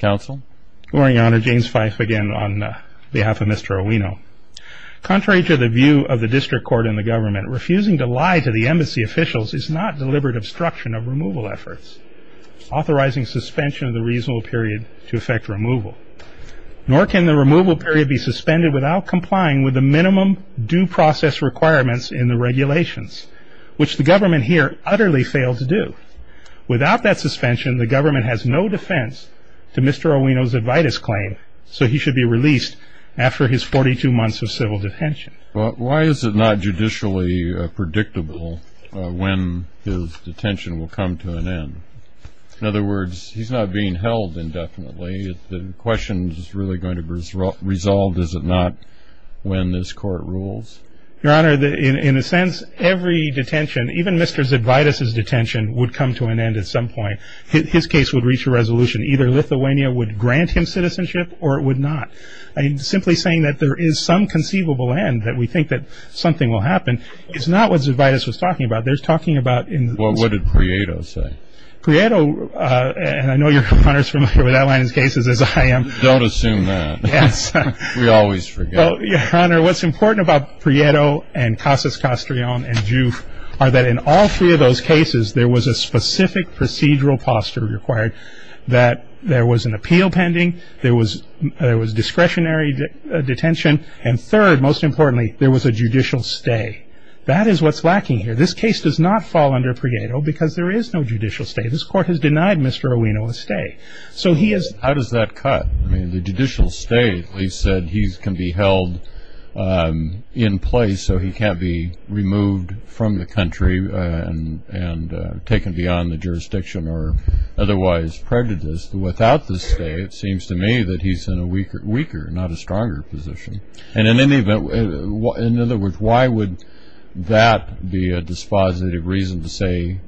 Council, Oriana, James Fife again on behalf of Mr. Owino. Contrary to the view of the district court and the government, refusing to lie to the embassy officials is not deliberate obstruction of removal efforts, authorizing suspension of the reasonable period to effect removal. Nor can the removal period be suspended without complying with the minimum due process requirements in the regulations, which the government here utterly failed to do. Without that suspension, the government has no defense to Mr. Owino's ad vitis claim, so he should be released after his 42 months of civil detention. Why is it not judicially predictable when his detention will come to an end? In other words, he's not being held indefinitely. The question is really going to be resolved, is it not, when this court rules? Your Honor, in a sense, every detention, even Mr. Zadvitas' detention, would come to an end at some point. His case would reach a resolution. Either Lithuania would grant him citizenship or it would not. Simply saying that there is some conceivable end, that we think that something will happen, is not what Zadvitas was talking about. They're talking about... Well, what did Prieto say? Prieto, and I know Your Honor is familiar with that line of cases as I am. Don't assume that. Yes. We always forget. Well, Your Honor, what's important about Prieto and Casas Castrion and Juf are that in all three of those cases, there was a specific procedural posture required that there was an appeal pending, there was discretionary detention, and third, most importantly, there was a judicial stay. That is what's lacking here. This case does not fall under Prieto because there is no judicial stay. This court has denied Mr. Owino a stay. So he has... How does that cut? I mean, the judicial stay, at least, said he can be held in place so he can't be removed from the country and taken beyond the jurisdiction or otherwise prejudiced. Without the stay, it seems to me that he's in a weaker, not a stronger position. And in any event, in other words, why would that be a dispositive reason to say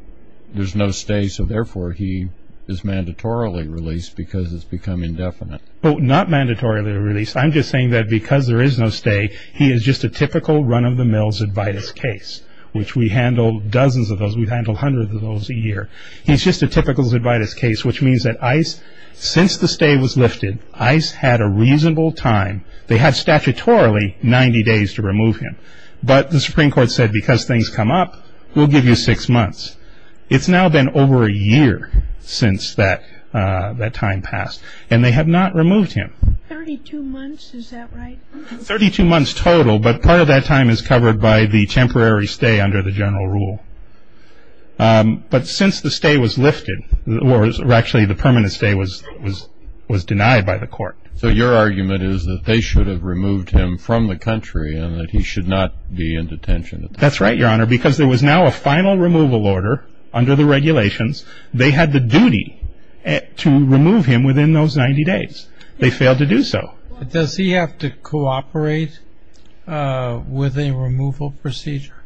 there's no stay, so therefore he is mandatorily released because it's become indefinite? Not mandatorily released. I'm just saying that because there is no stay, he is just a typical run-of-the-mill Zydvitas case, which we handle dozens of those. We handle hundreds of those a year. He's just a typical Zydvitas case, which means that ICE, since the stay was lifted, ICE had a reasonable time. They had statutorily 90 days to remove him. But the Supreme Court said because things come up, we'll give you six months. It's now been over a year since that time passed, and they have not removed him. Thirty-two months, is that right? Thirty-two months total, but part of that time is covered by the temporary stay under the general rule. But since the stay was lifted, or actually the permanent stay was denied by the court. So your argument is that they should have removed him from the country and that he should not be in detention? That's right, Your Honor, because there was now a final removal order under the regulations. They had the duty to remove him within those 90 days. They failed to do so. Does he have to cooperate with a removal procedure?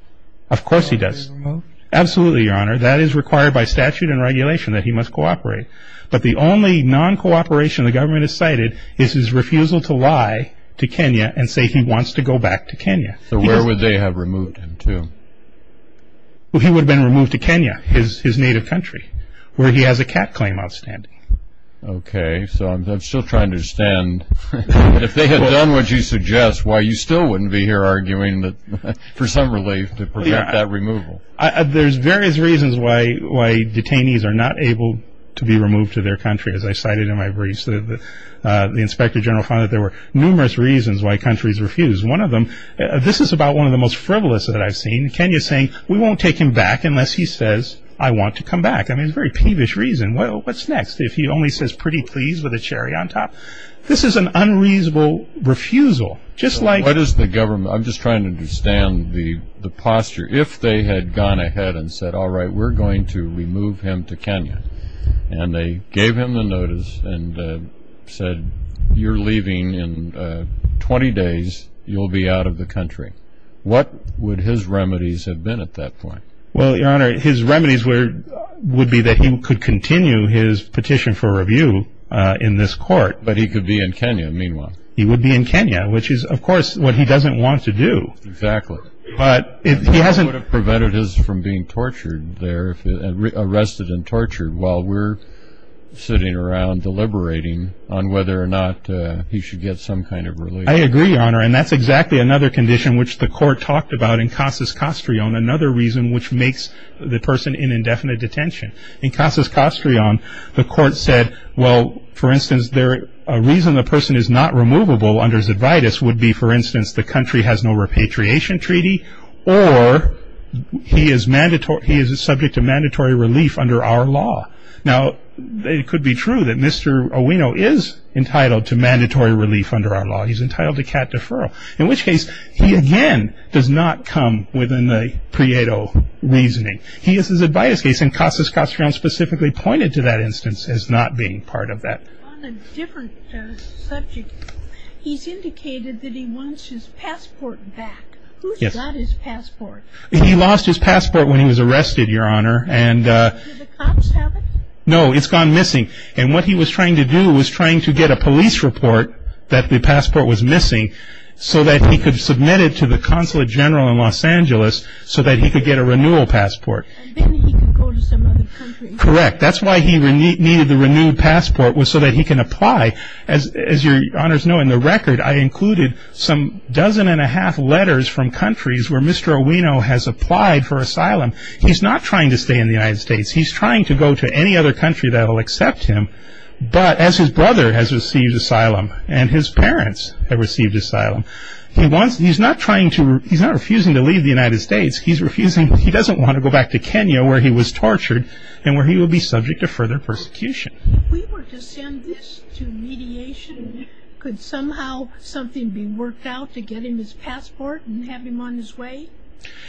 Of course he does. Absolutely, Your Honor. That is required by statute and regulation that he must cooperate. But the only non-cooperation the government has cited is his refusal to lie to Kenya and say he wants to go back to Kenya. So where would they have removed him to? Well, he would have been removed to Kenya, his native country, where he has a cat claim outstanding. Okay, so I'm still trying to understand. If they had done what you suggest, why you still wouldn't be here arguing for some relief to prevent that removal? There's various reasons why detainees are not able to be removed to their country. As I cited in my briefs, the Inspector General found that there were numerous reasons why countries refuse. One of them, this is about one of the most frivolous that I've seen, Kenya saying, we won't take him back unless he says, I want to come back. I mean, it's a very peevish reason. Well, what's next? If he only says pretty please with a cherry on top? This is an unreasonable refusal. Just like- What is the government, I'm just trying to understand the posture. If they had gone ahead and said, all right, we're going to remove him to Kenya, and they you'll be out of the country. What would his remedies have been at that point? Well, Your Honor, his remedies would be that he could continue his petition for review in this court. But he could be in Kenya, meanwhile. He would be in Kenya, which is, of course, what he doesn't want to do. Exactly. But he hasn't- It would have prevented his from being tortured there, arrested and tortured, while we're sitting around deliberating on whether or not he should get some kind of relief. I agree, Your Honor. And that's exactly another condition which the court talked about in Casas Castrion, another reason which makes the person in indefinite detention. In Casas Castrion, the court said, well, for instance, a reason the person is not removable under Zadvidas would be, for instance, the country has no repatriation treaty, or he is subject to mandatory relief under our law. Now it could be true that Mr. Owino is entitled to mandatory relief under our law. He's entitled to cat deferral. In which case, he again does not come within the Prieto reasoning. He is Zadvidas case, and Casas Castrion specifically pointed to that instance as not being part of that. On a different subject, he's indicated that he wants his passport back. Who's got his passport? He lost his passport when he was arrested, Your Honor. And- Do the cops have it? No, it's gone missing. And what he was trying to do was trying to get a police report that the passport was missing so that he could submit it to the Consulate General in Los Angeles so that he could get a renewal passport. And then he could go to some other country. Correct. That's why he needed the renewed passport was so that he can apply. As Your Honors know, in the record, I included some dozen and a half letters from countries where Mr. Owino has applied for asylum. He's not trying to stay in the United States. He's trying to go to any other country that will accept him. But as his brother has received asylum and his parents have received asylum, he wants – he's not trying to – he's not refusing to leave the United States. He's refusing – he doesn't want to go back to Kenya where he was tortured and where he will be subject to further persecution. If we were to send this to mediation, could somehow something be worked out to get him his passport and have him on his way?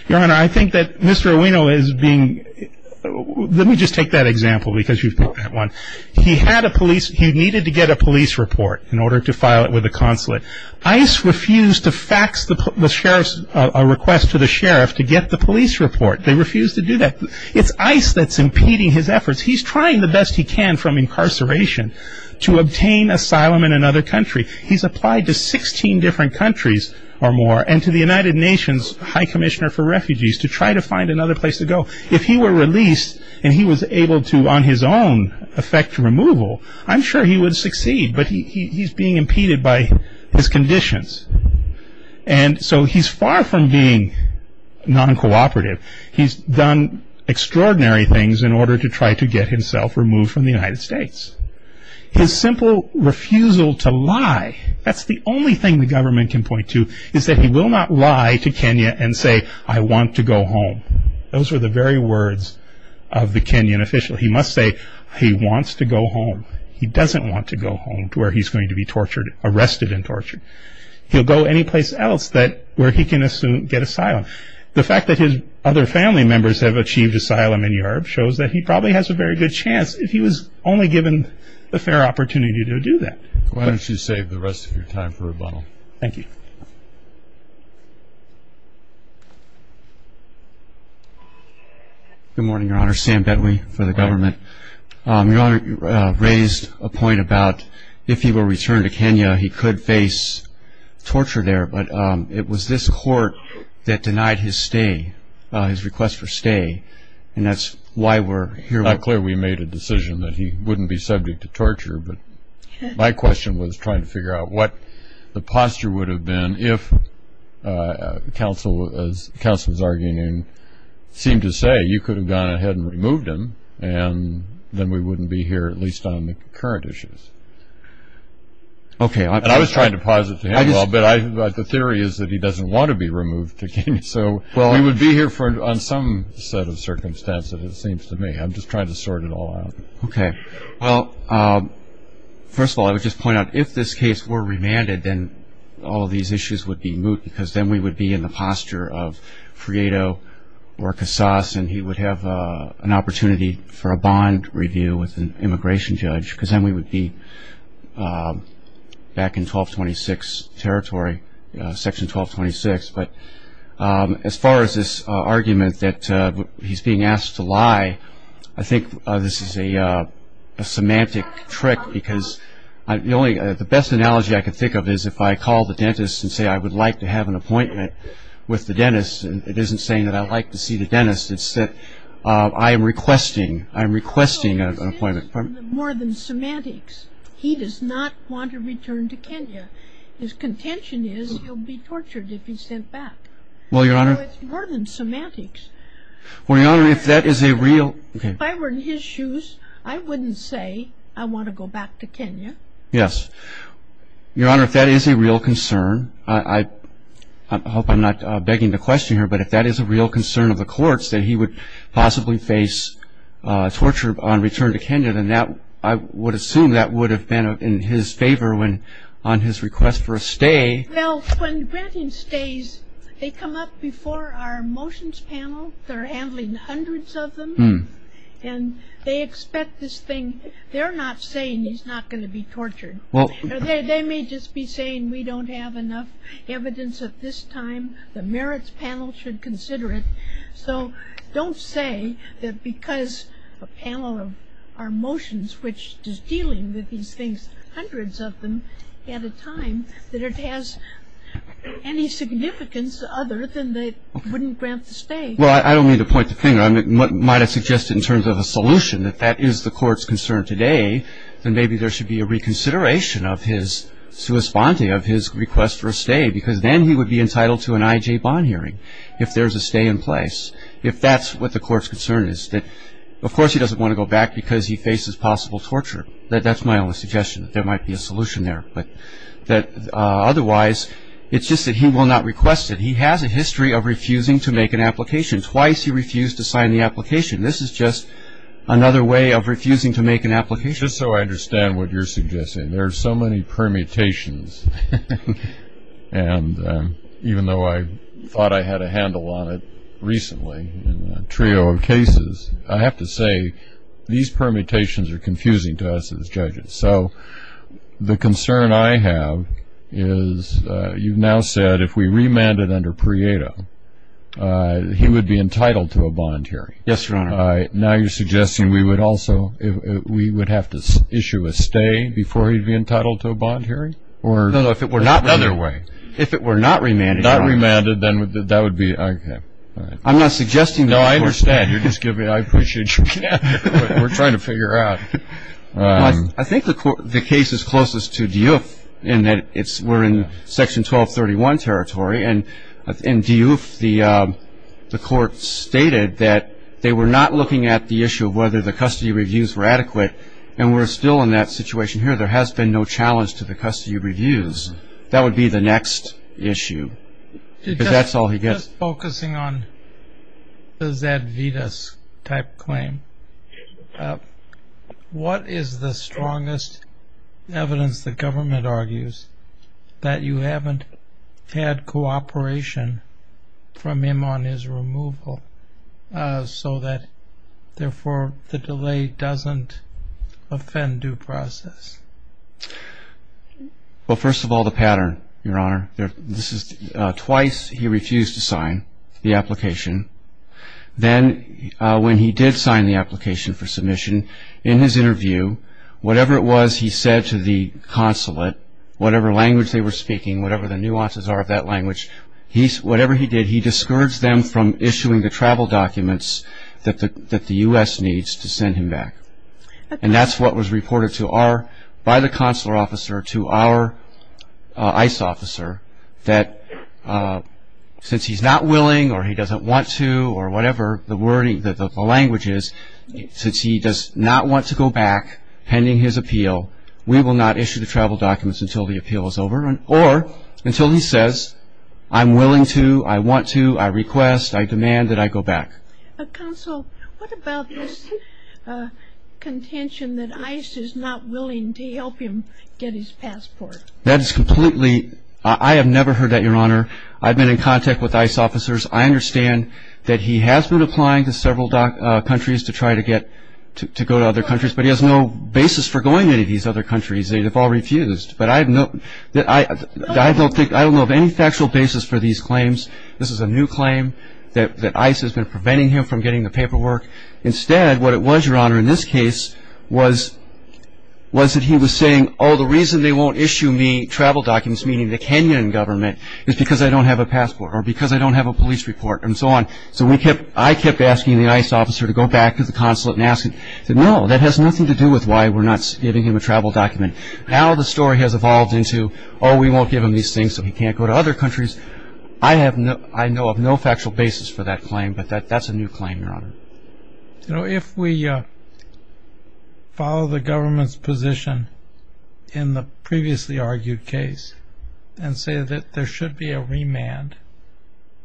Your Honor, I think that Mr. Owino is being – let me just take that example because you've picked that one. He had a police – he needed to get a police report in order to file it with the consulate. ICE refused to fax the sheriff's – a request to the sheriff to get the police report. They refused to do that. It's ICE that's impeding his efforts. He's trying the best he can from incarceration to obtain asylum in another country. He's applied to 16 different countries or more and to the United Nations High Commissioner for Refugees to try to find another place to go. If he were released and he was able to, on his own, effect removal, I'm sure he would succeed. But he's being impeded by his conditions. And so he's far from being non-cooperative. He's done extraordinary things in order to try to get himself removed from the United States. His simple refusal to lie – that's the only thing the government can point to – is that he will not lie to Kenya and say, I want to go home. Those were the very words of the Kenyan official. He must say he wants to go home. He doesn't want to go home to where he's going to be tortured – arrested and tortured. He'll go anyplace else that – where he can get asylum. The fact that his other family members have achieved asylum in Europe shows that he probably has a very good chance. He was only given a fair opportunity to do that. Why don't you save the rest of your time for rebuttal? Thank you. Good morning, Your Honor. Sam Bedley for the government. Your Honor, you raised a point about if he were returned to Kenya, he could face torture there. But it was this court that denied his stay – his request for stay. And that's why we're here. It's not clear we made a decision that he wouldn't be subject to torture, but my question was trying to figure out what the posture would have been if counsel – as counsel was arguing – seemed to say, you could have gone ahead and removed him, and then we wouldn't be here, at least on the current issues. Okay. And I was trying to posit to him, but the theory is that he doesn't want to be removed to Kenya. So we would be here on some set of circumstances, it seems to me. I'm just trying to sort it all out. Okay. Well, first of all, I would just point out, if this case were remanded, then all of these issues would be moot, because then we would be in the posture of Friedo or Casas, and he would have an opportunity for a bond review with an immigration judge, because then we would be back in 1226 territory – Section 1226. But as far as this argument that he's being asked to lie, I think this is a semantic trick, because the best analogy I can think of is if I call the dentist and say, I would like to have an appointment with the dentist, and it isn't saying that I'd like to see the dentist. It's that I am requesting – I'm requesting an appointment. Well, his intention is more than semantics. He does not want to return to Kenya. His contention is he'll be tortured if he's sent back. Well, Your Honor – So it's more than semantics. Well, Your Honor, if that is a real – If I were in his shoes, I wouldn't say, I want to go back to Kenya. Yes. Your Honor, if that is a real concern – I hope I'm not begging to question her, but if that is a real concern of the courts, that he would possibly face torture on return to for a stay – Well, when granting stays, they come up before our motions panel, they're handling hundreds of them, and they expect this thing – they're not saying he's not going to be tortured. They may just be saying, we don't have enough evidence at this time, the merits panel should consider it. So don't say that because a panel of our motions, which is dealing with these things, hundreds of them at a time, that it has any significance other than they wouldn't grant the stay. Well, I don't mean to point the finger. I might have suggested in terms of a solution, if that is the court's concern today, then maybe there should be a reconsideration of his sua sponte, of his request for a stay, because then he would be entitled to an IJ bond hearing if there's a stay in place. If that's what the court's concern is, then of course he doesn't want to go back because he faces possible torture. That's my only suggestion, that there might be a solution there. Otherwise, it's just that he will not request it. He has a history of refusing to make an application. Twice he refused to sign the application. This is just another way of refusing to make an application. Just so I understand what you're suggesting, there are so many permutations, and even though I thought I had a handle on it recently in a trio of cases, I have to say, these permutations are confusing to us as judges. So the concern I have is, you've now said if we remanded under Prieto, he would be entitled to a bond hearing. Yes, Your Honor. All right. Now you're suggesting we would also, we would have to issue a stay before he'd be entitled to a bond hearing? No, no. If it were not remanded. If it were not remanded, then that would be, okay. I'm not suggesting that. No, I understand. You're just giving, I appreciate your, we're trying to figure out. I think the case is closest to Diouf in that it's, we're in Section 1231 territory, and in Diouf, the court stated that they were not looking at the issue of whether the custody reviews were adequate, and we're still in that situation here. There has been no challenge to the custody reviews. That would be the next issue, because that's all he gets. Just focusing on the Zadvydas type claim, what is the strongest evidence the government argues that you haven't had cooperation from him on his removal, so that therefore the delay doesn't offend due process? Well, first of all, the pattern, Your Honor. This is twice he refused to sign the application. Then when he did sign the application for submission, in his interview, whatever it was he said to the consulate, whatever language they were speaking, whatever the nuances are of that language, whatever he did, he discouraged them from issuing the travel documents that the U.S. needs to send him back, and that's what was reported to our, by the consular officer, that since he's not willing, or he doesn't want to, or whatever the language is, since he does not want to go back pending his appeal, we will not issue the travel documents until the appeal is over, or until he says, I'm willing to, I want to, I request, I demand that I go back. Counsel, what about this contention that ICE is not willing to help him get his passport? That is completely, I have never heard that, Your Honor. I've been in contact with ICE officers. I understand that he has been applying to several countries to try to get, to go to other countries, but he has no basis for going to any of these other countries. They have all refused, but I have no, I don't think, I don't know of any factual basis for these claims. This is a new claim that ICE has been preventing him from getting the paperwork. Instead, what it was, Your Honor, in this case, was that he was saying, oh, the reason they won't issue me travel documents, meaning the Kenyan government, is because I don't have a passport, or because I don't have a police report, and so on. So we kept, I kept asking the ICE officer to go back to the consulate and ask, and he said, no, that has nothing to do with why we're not giving him a travel document. Now the story has evolved into, oh, we won't give him these things so he can't go to other countries. I have no, I know of no factual basis for that claim, but that's a new claim, Your Honor. You know, if we follow the government's position in the previously argued case, and say that there should be a remand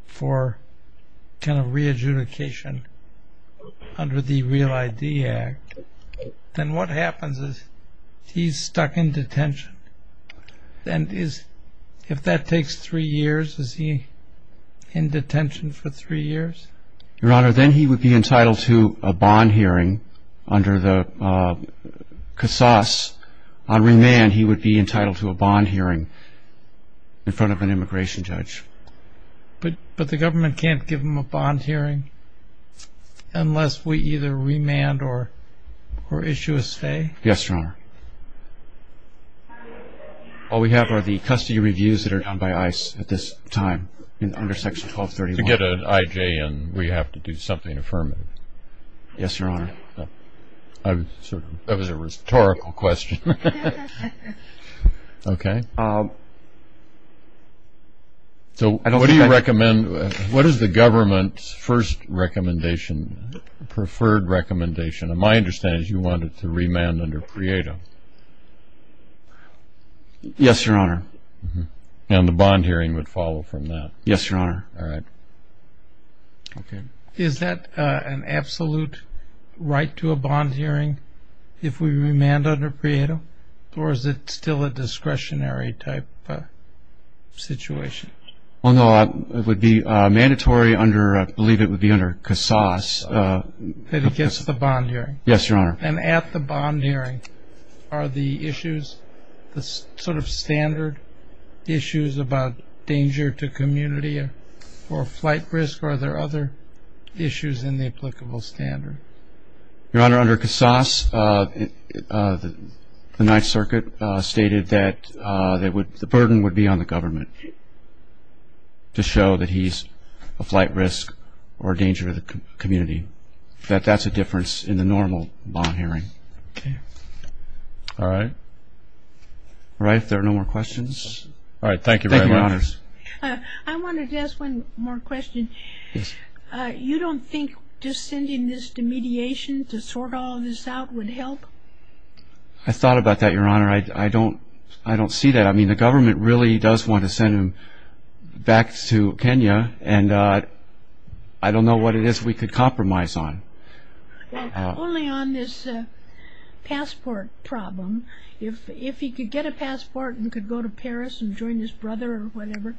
for kind of re-adjudication under the Real ID Act, then what happens is he's stuck in detention, and is, if that takes three years, is he in detention for three years? Yes. Your Honor, then he would be entitled to a bond hearing under the CASAS. On remand, he would be entitled to a bond hearing in front of an immigration judge. But the government can't give him a bond hearing unless we either remand or issue a stay? Yes, Your Honor. All we have are the custody reviews that are done by ICE at this time, under Section 1231. To get an IJN, we have to do something affirmative. Yes, Your Honor. That was a rhetorical question. Okay. So, what do you recommend, what is the government's first recommendation, preferred recommendation? My understanding is you want it to remand under PREADA. Yes, Your Honor. And the bond hearing would follow from that? Yes, Your Honor. All right. Okay. Is that an absolute right to a bond hearing if we remand under PREADA, or is it still a discretionary type situation? Well, no, it would be mandatory under, I believe it would be under CASAS. That he gets the bond hearing? Yes, Your Honor. And at the bond hearing, are the issues, the sort of standard issues about danger to community or flight risk, or are there other issues in the applicable standard? Your Honor, under CASAS, the Ninth Circuit stated that the burden would be on the government to show that he's a flight risk or a danger to the community, that that's a difference in the normal bond hearing. Okay. All right. All right. If there are no more questions. All right. Thank you very much. Thank you, Your Honors. I wanted to ask one more question. You don't think just sending this to mediation to sort all of this out would help? I thought about that, Your Honor. I don't see that. I mean, the government really does want to send him back to Kenya, and I don't know what it is we could compromise on. Well, only on this passport problem. If he could get a passport and could go to Paris and join his brother or whatever.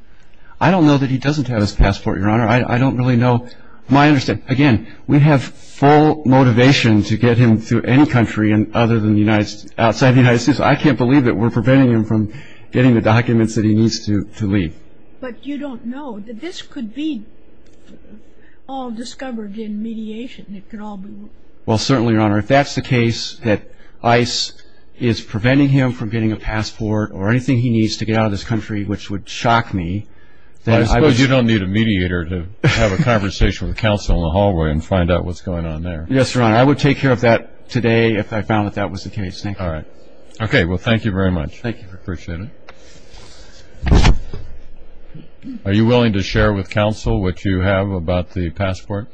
I don't know that he doesn't have his passport, Your Honor. I don't really know. From what I understand, again, we have full motivation to get him to any country other than outside the United States. I can't believe that we're preventing him from getting the documents that he needs to leave. But you don't know that this could be all discovered in mediation. It could all be. Well, certainly, Your Honor. If that's the case, that ICE is preventing him from getting a passport or anything he needs to get out of this country, which would shock me, then I would... I suppose you don't need a mediator to have a conversation with counsel in the hallway and find out what's going on there. Yes, Your Honor. I would take care of that today if I found that that was the case. Thank you. All right. Okay. Well, thank you very much. Thank you. I appreciate it. Are you willing to share with counsel what you have about the passport?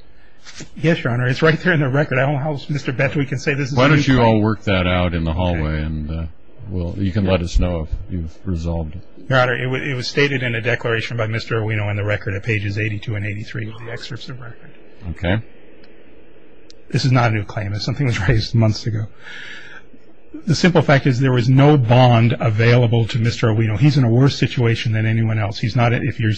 Yes, Your Honor. It's right there in the record. I don't know how, Mr. Betz, we can say this is a new claim. Why don't you all work that out in the hallway, and you can let us know if you've resolved it. Your Honor, it was stated in a declaration by Mr. Aruino in the record at pages 82 and 83 of the excerpts of the record. Okay. This is not a new claim. It's something that was raised months ago. The simple fact is there was no bond available to Mr. Aruino. He's in a worse situation than anyone else. If he's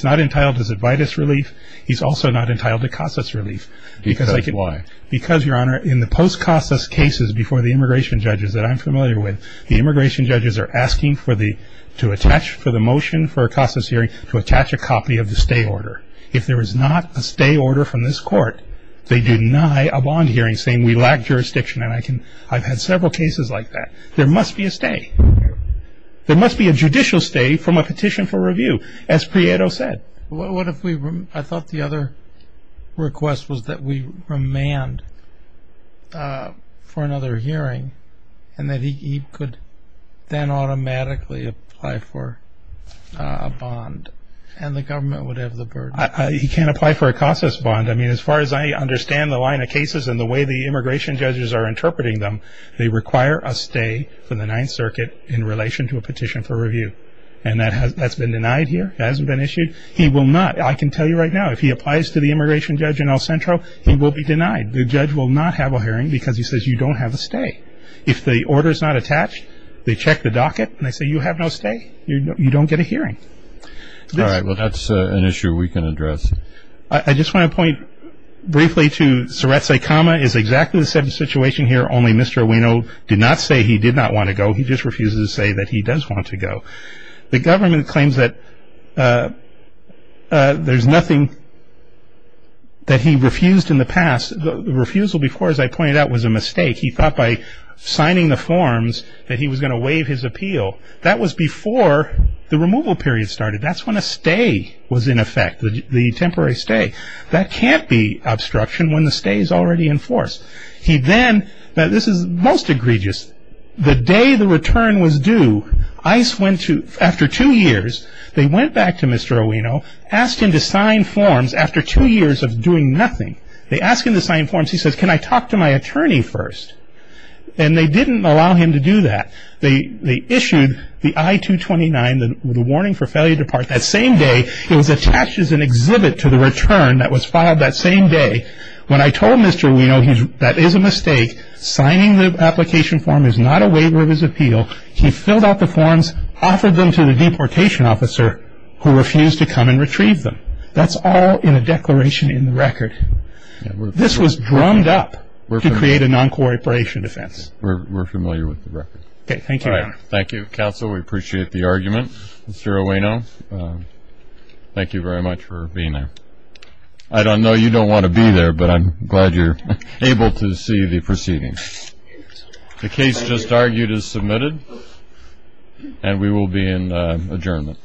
not entitled to Zitvidus relief, he's also not entitled to CASAS relief. Because why? Because, Your Honor, in the post-CASAS cases before the immigration judges that I'm familiar with, the immigration judges are asking for the motion for a CASAS hearing to attach a copy of the stay order. If there is not a stay order from this court, they deny a bond hearing saying we lack jurisdiction. And I've had several cases like that. There must be a stay. There must be a judicial stay from a petition for review, as Prieto said. I thought the other request was that we remand for another hearing and that he could then automatically apply for a bond. And the government would have the burden. He can't apply for a CASAS bond. I mean, as far as I understand the line of cases and the way the immigration judges are interpreting them, they require a stay from the Ninth Circuit in relation to a petition for review. And that's been denied here. It hasn't been issued. I can tell you right now, if he applies to the immigration judge in El Centro, he will be denied. The judge will not have a hearing because he says you don't have a stay. If the order's not attached, they check the docket, and they say you have no stay, you don't get a hearing. All right. Well, that's an issue we can address. I just want to point briefly to Suretse Kama is exactly the same situation here, only Mr. Ueno did not say he did not want to go. He just refuses to say that he does want to go. The government claims that there's nothing that he refused in the past. The refusal before, as I pointed out, was a mistake. He thought by signing the forms that he was going to waive his appeal. That was before the removal period started. That's when a stay was in effect, the temporary stay. That can't be obstruction when the stay is already in force. He then, now this is most egregious. The day the return was due, ICE went to, after two years, they went back to Mr. Ueno, asked him to sign forms after two years of doing nothing. They asked him to sign forms. He says, can I talk to my attorney first? They didn't allow him to do that. They issued the I-229, the warning for failure to depart. That same day, it was attached as an exhibit to the return that was filed that same day. When I told Mr. Ueno that is a mistake, signing the application form is not a waiver of his appeal, he filled out the forms, offered them to the deportation officer who refused to come and retrieve them. That's all in a declaration in the record. This was drummed up to create a non-cooperation defense. We're familiar with the record. Okay, thank you. All right. Thank you, counsel. We appreciate the argument. Mr. Ueno, thank you very much for being there. I don't know, you don't want to be there, but I'm glad you're able to see the proceedings. The case just argued is submitted, and we will be in adjournment.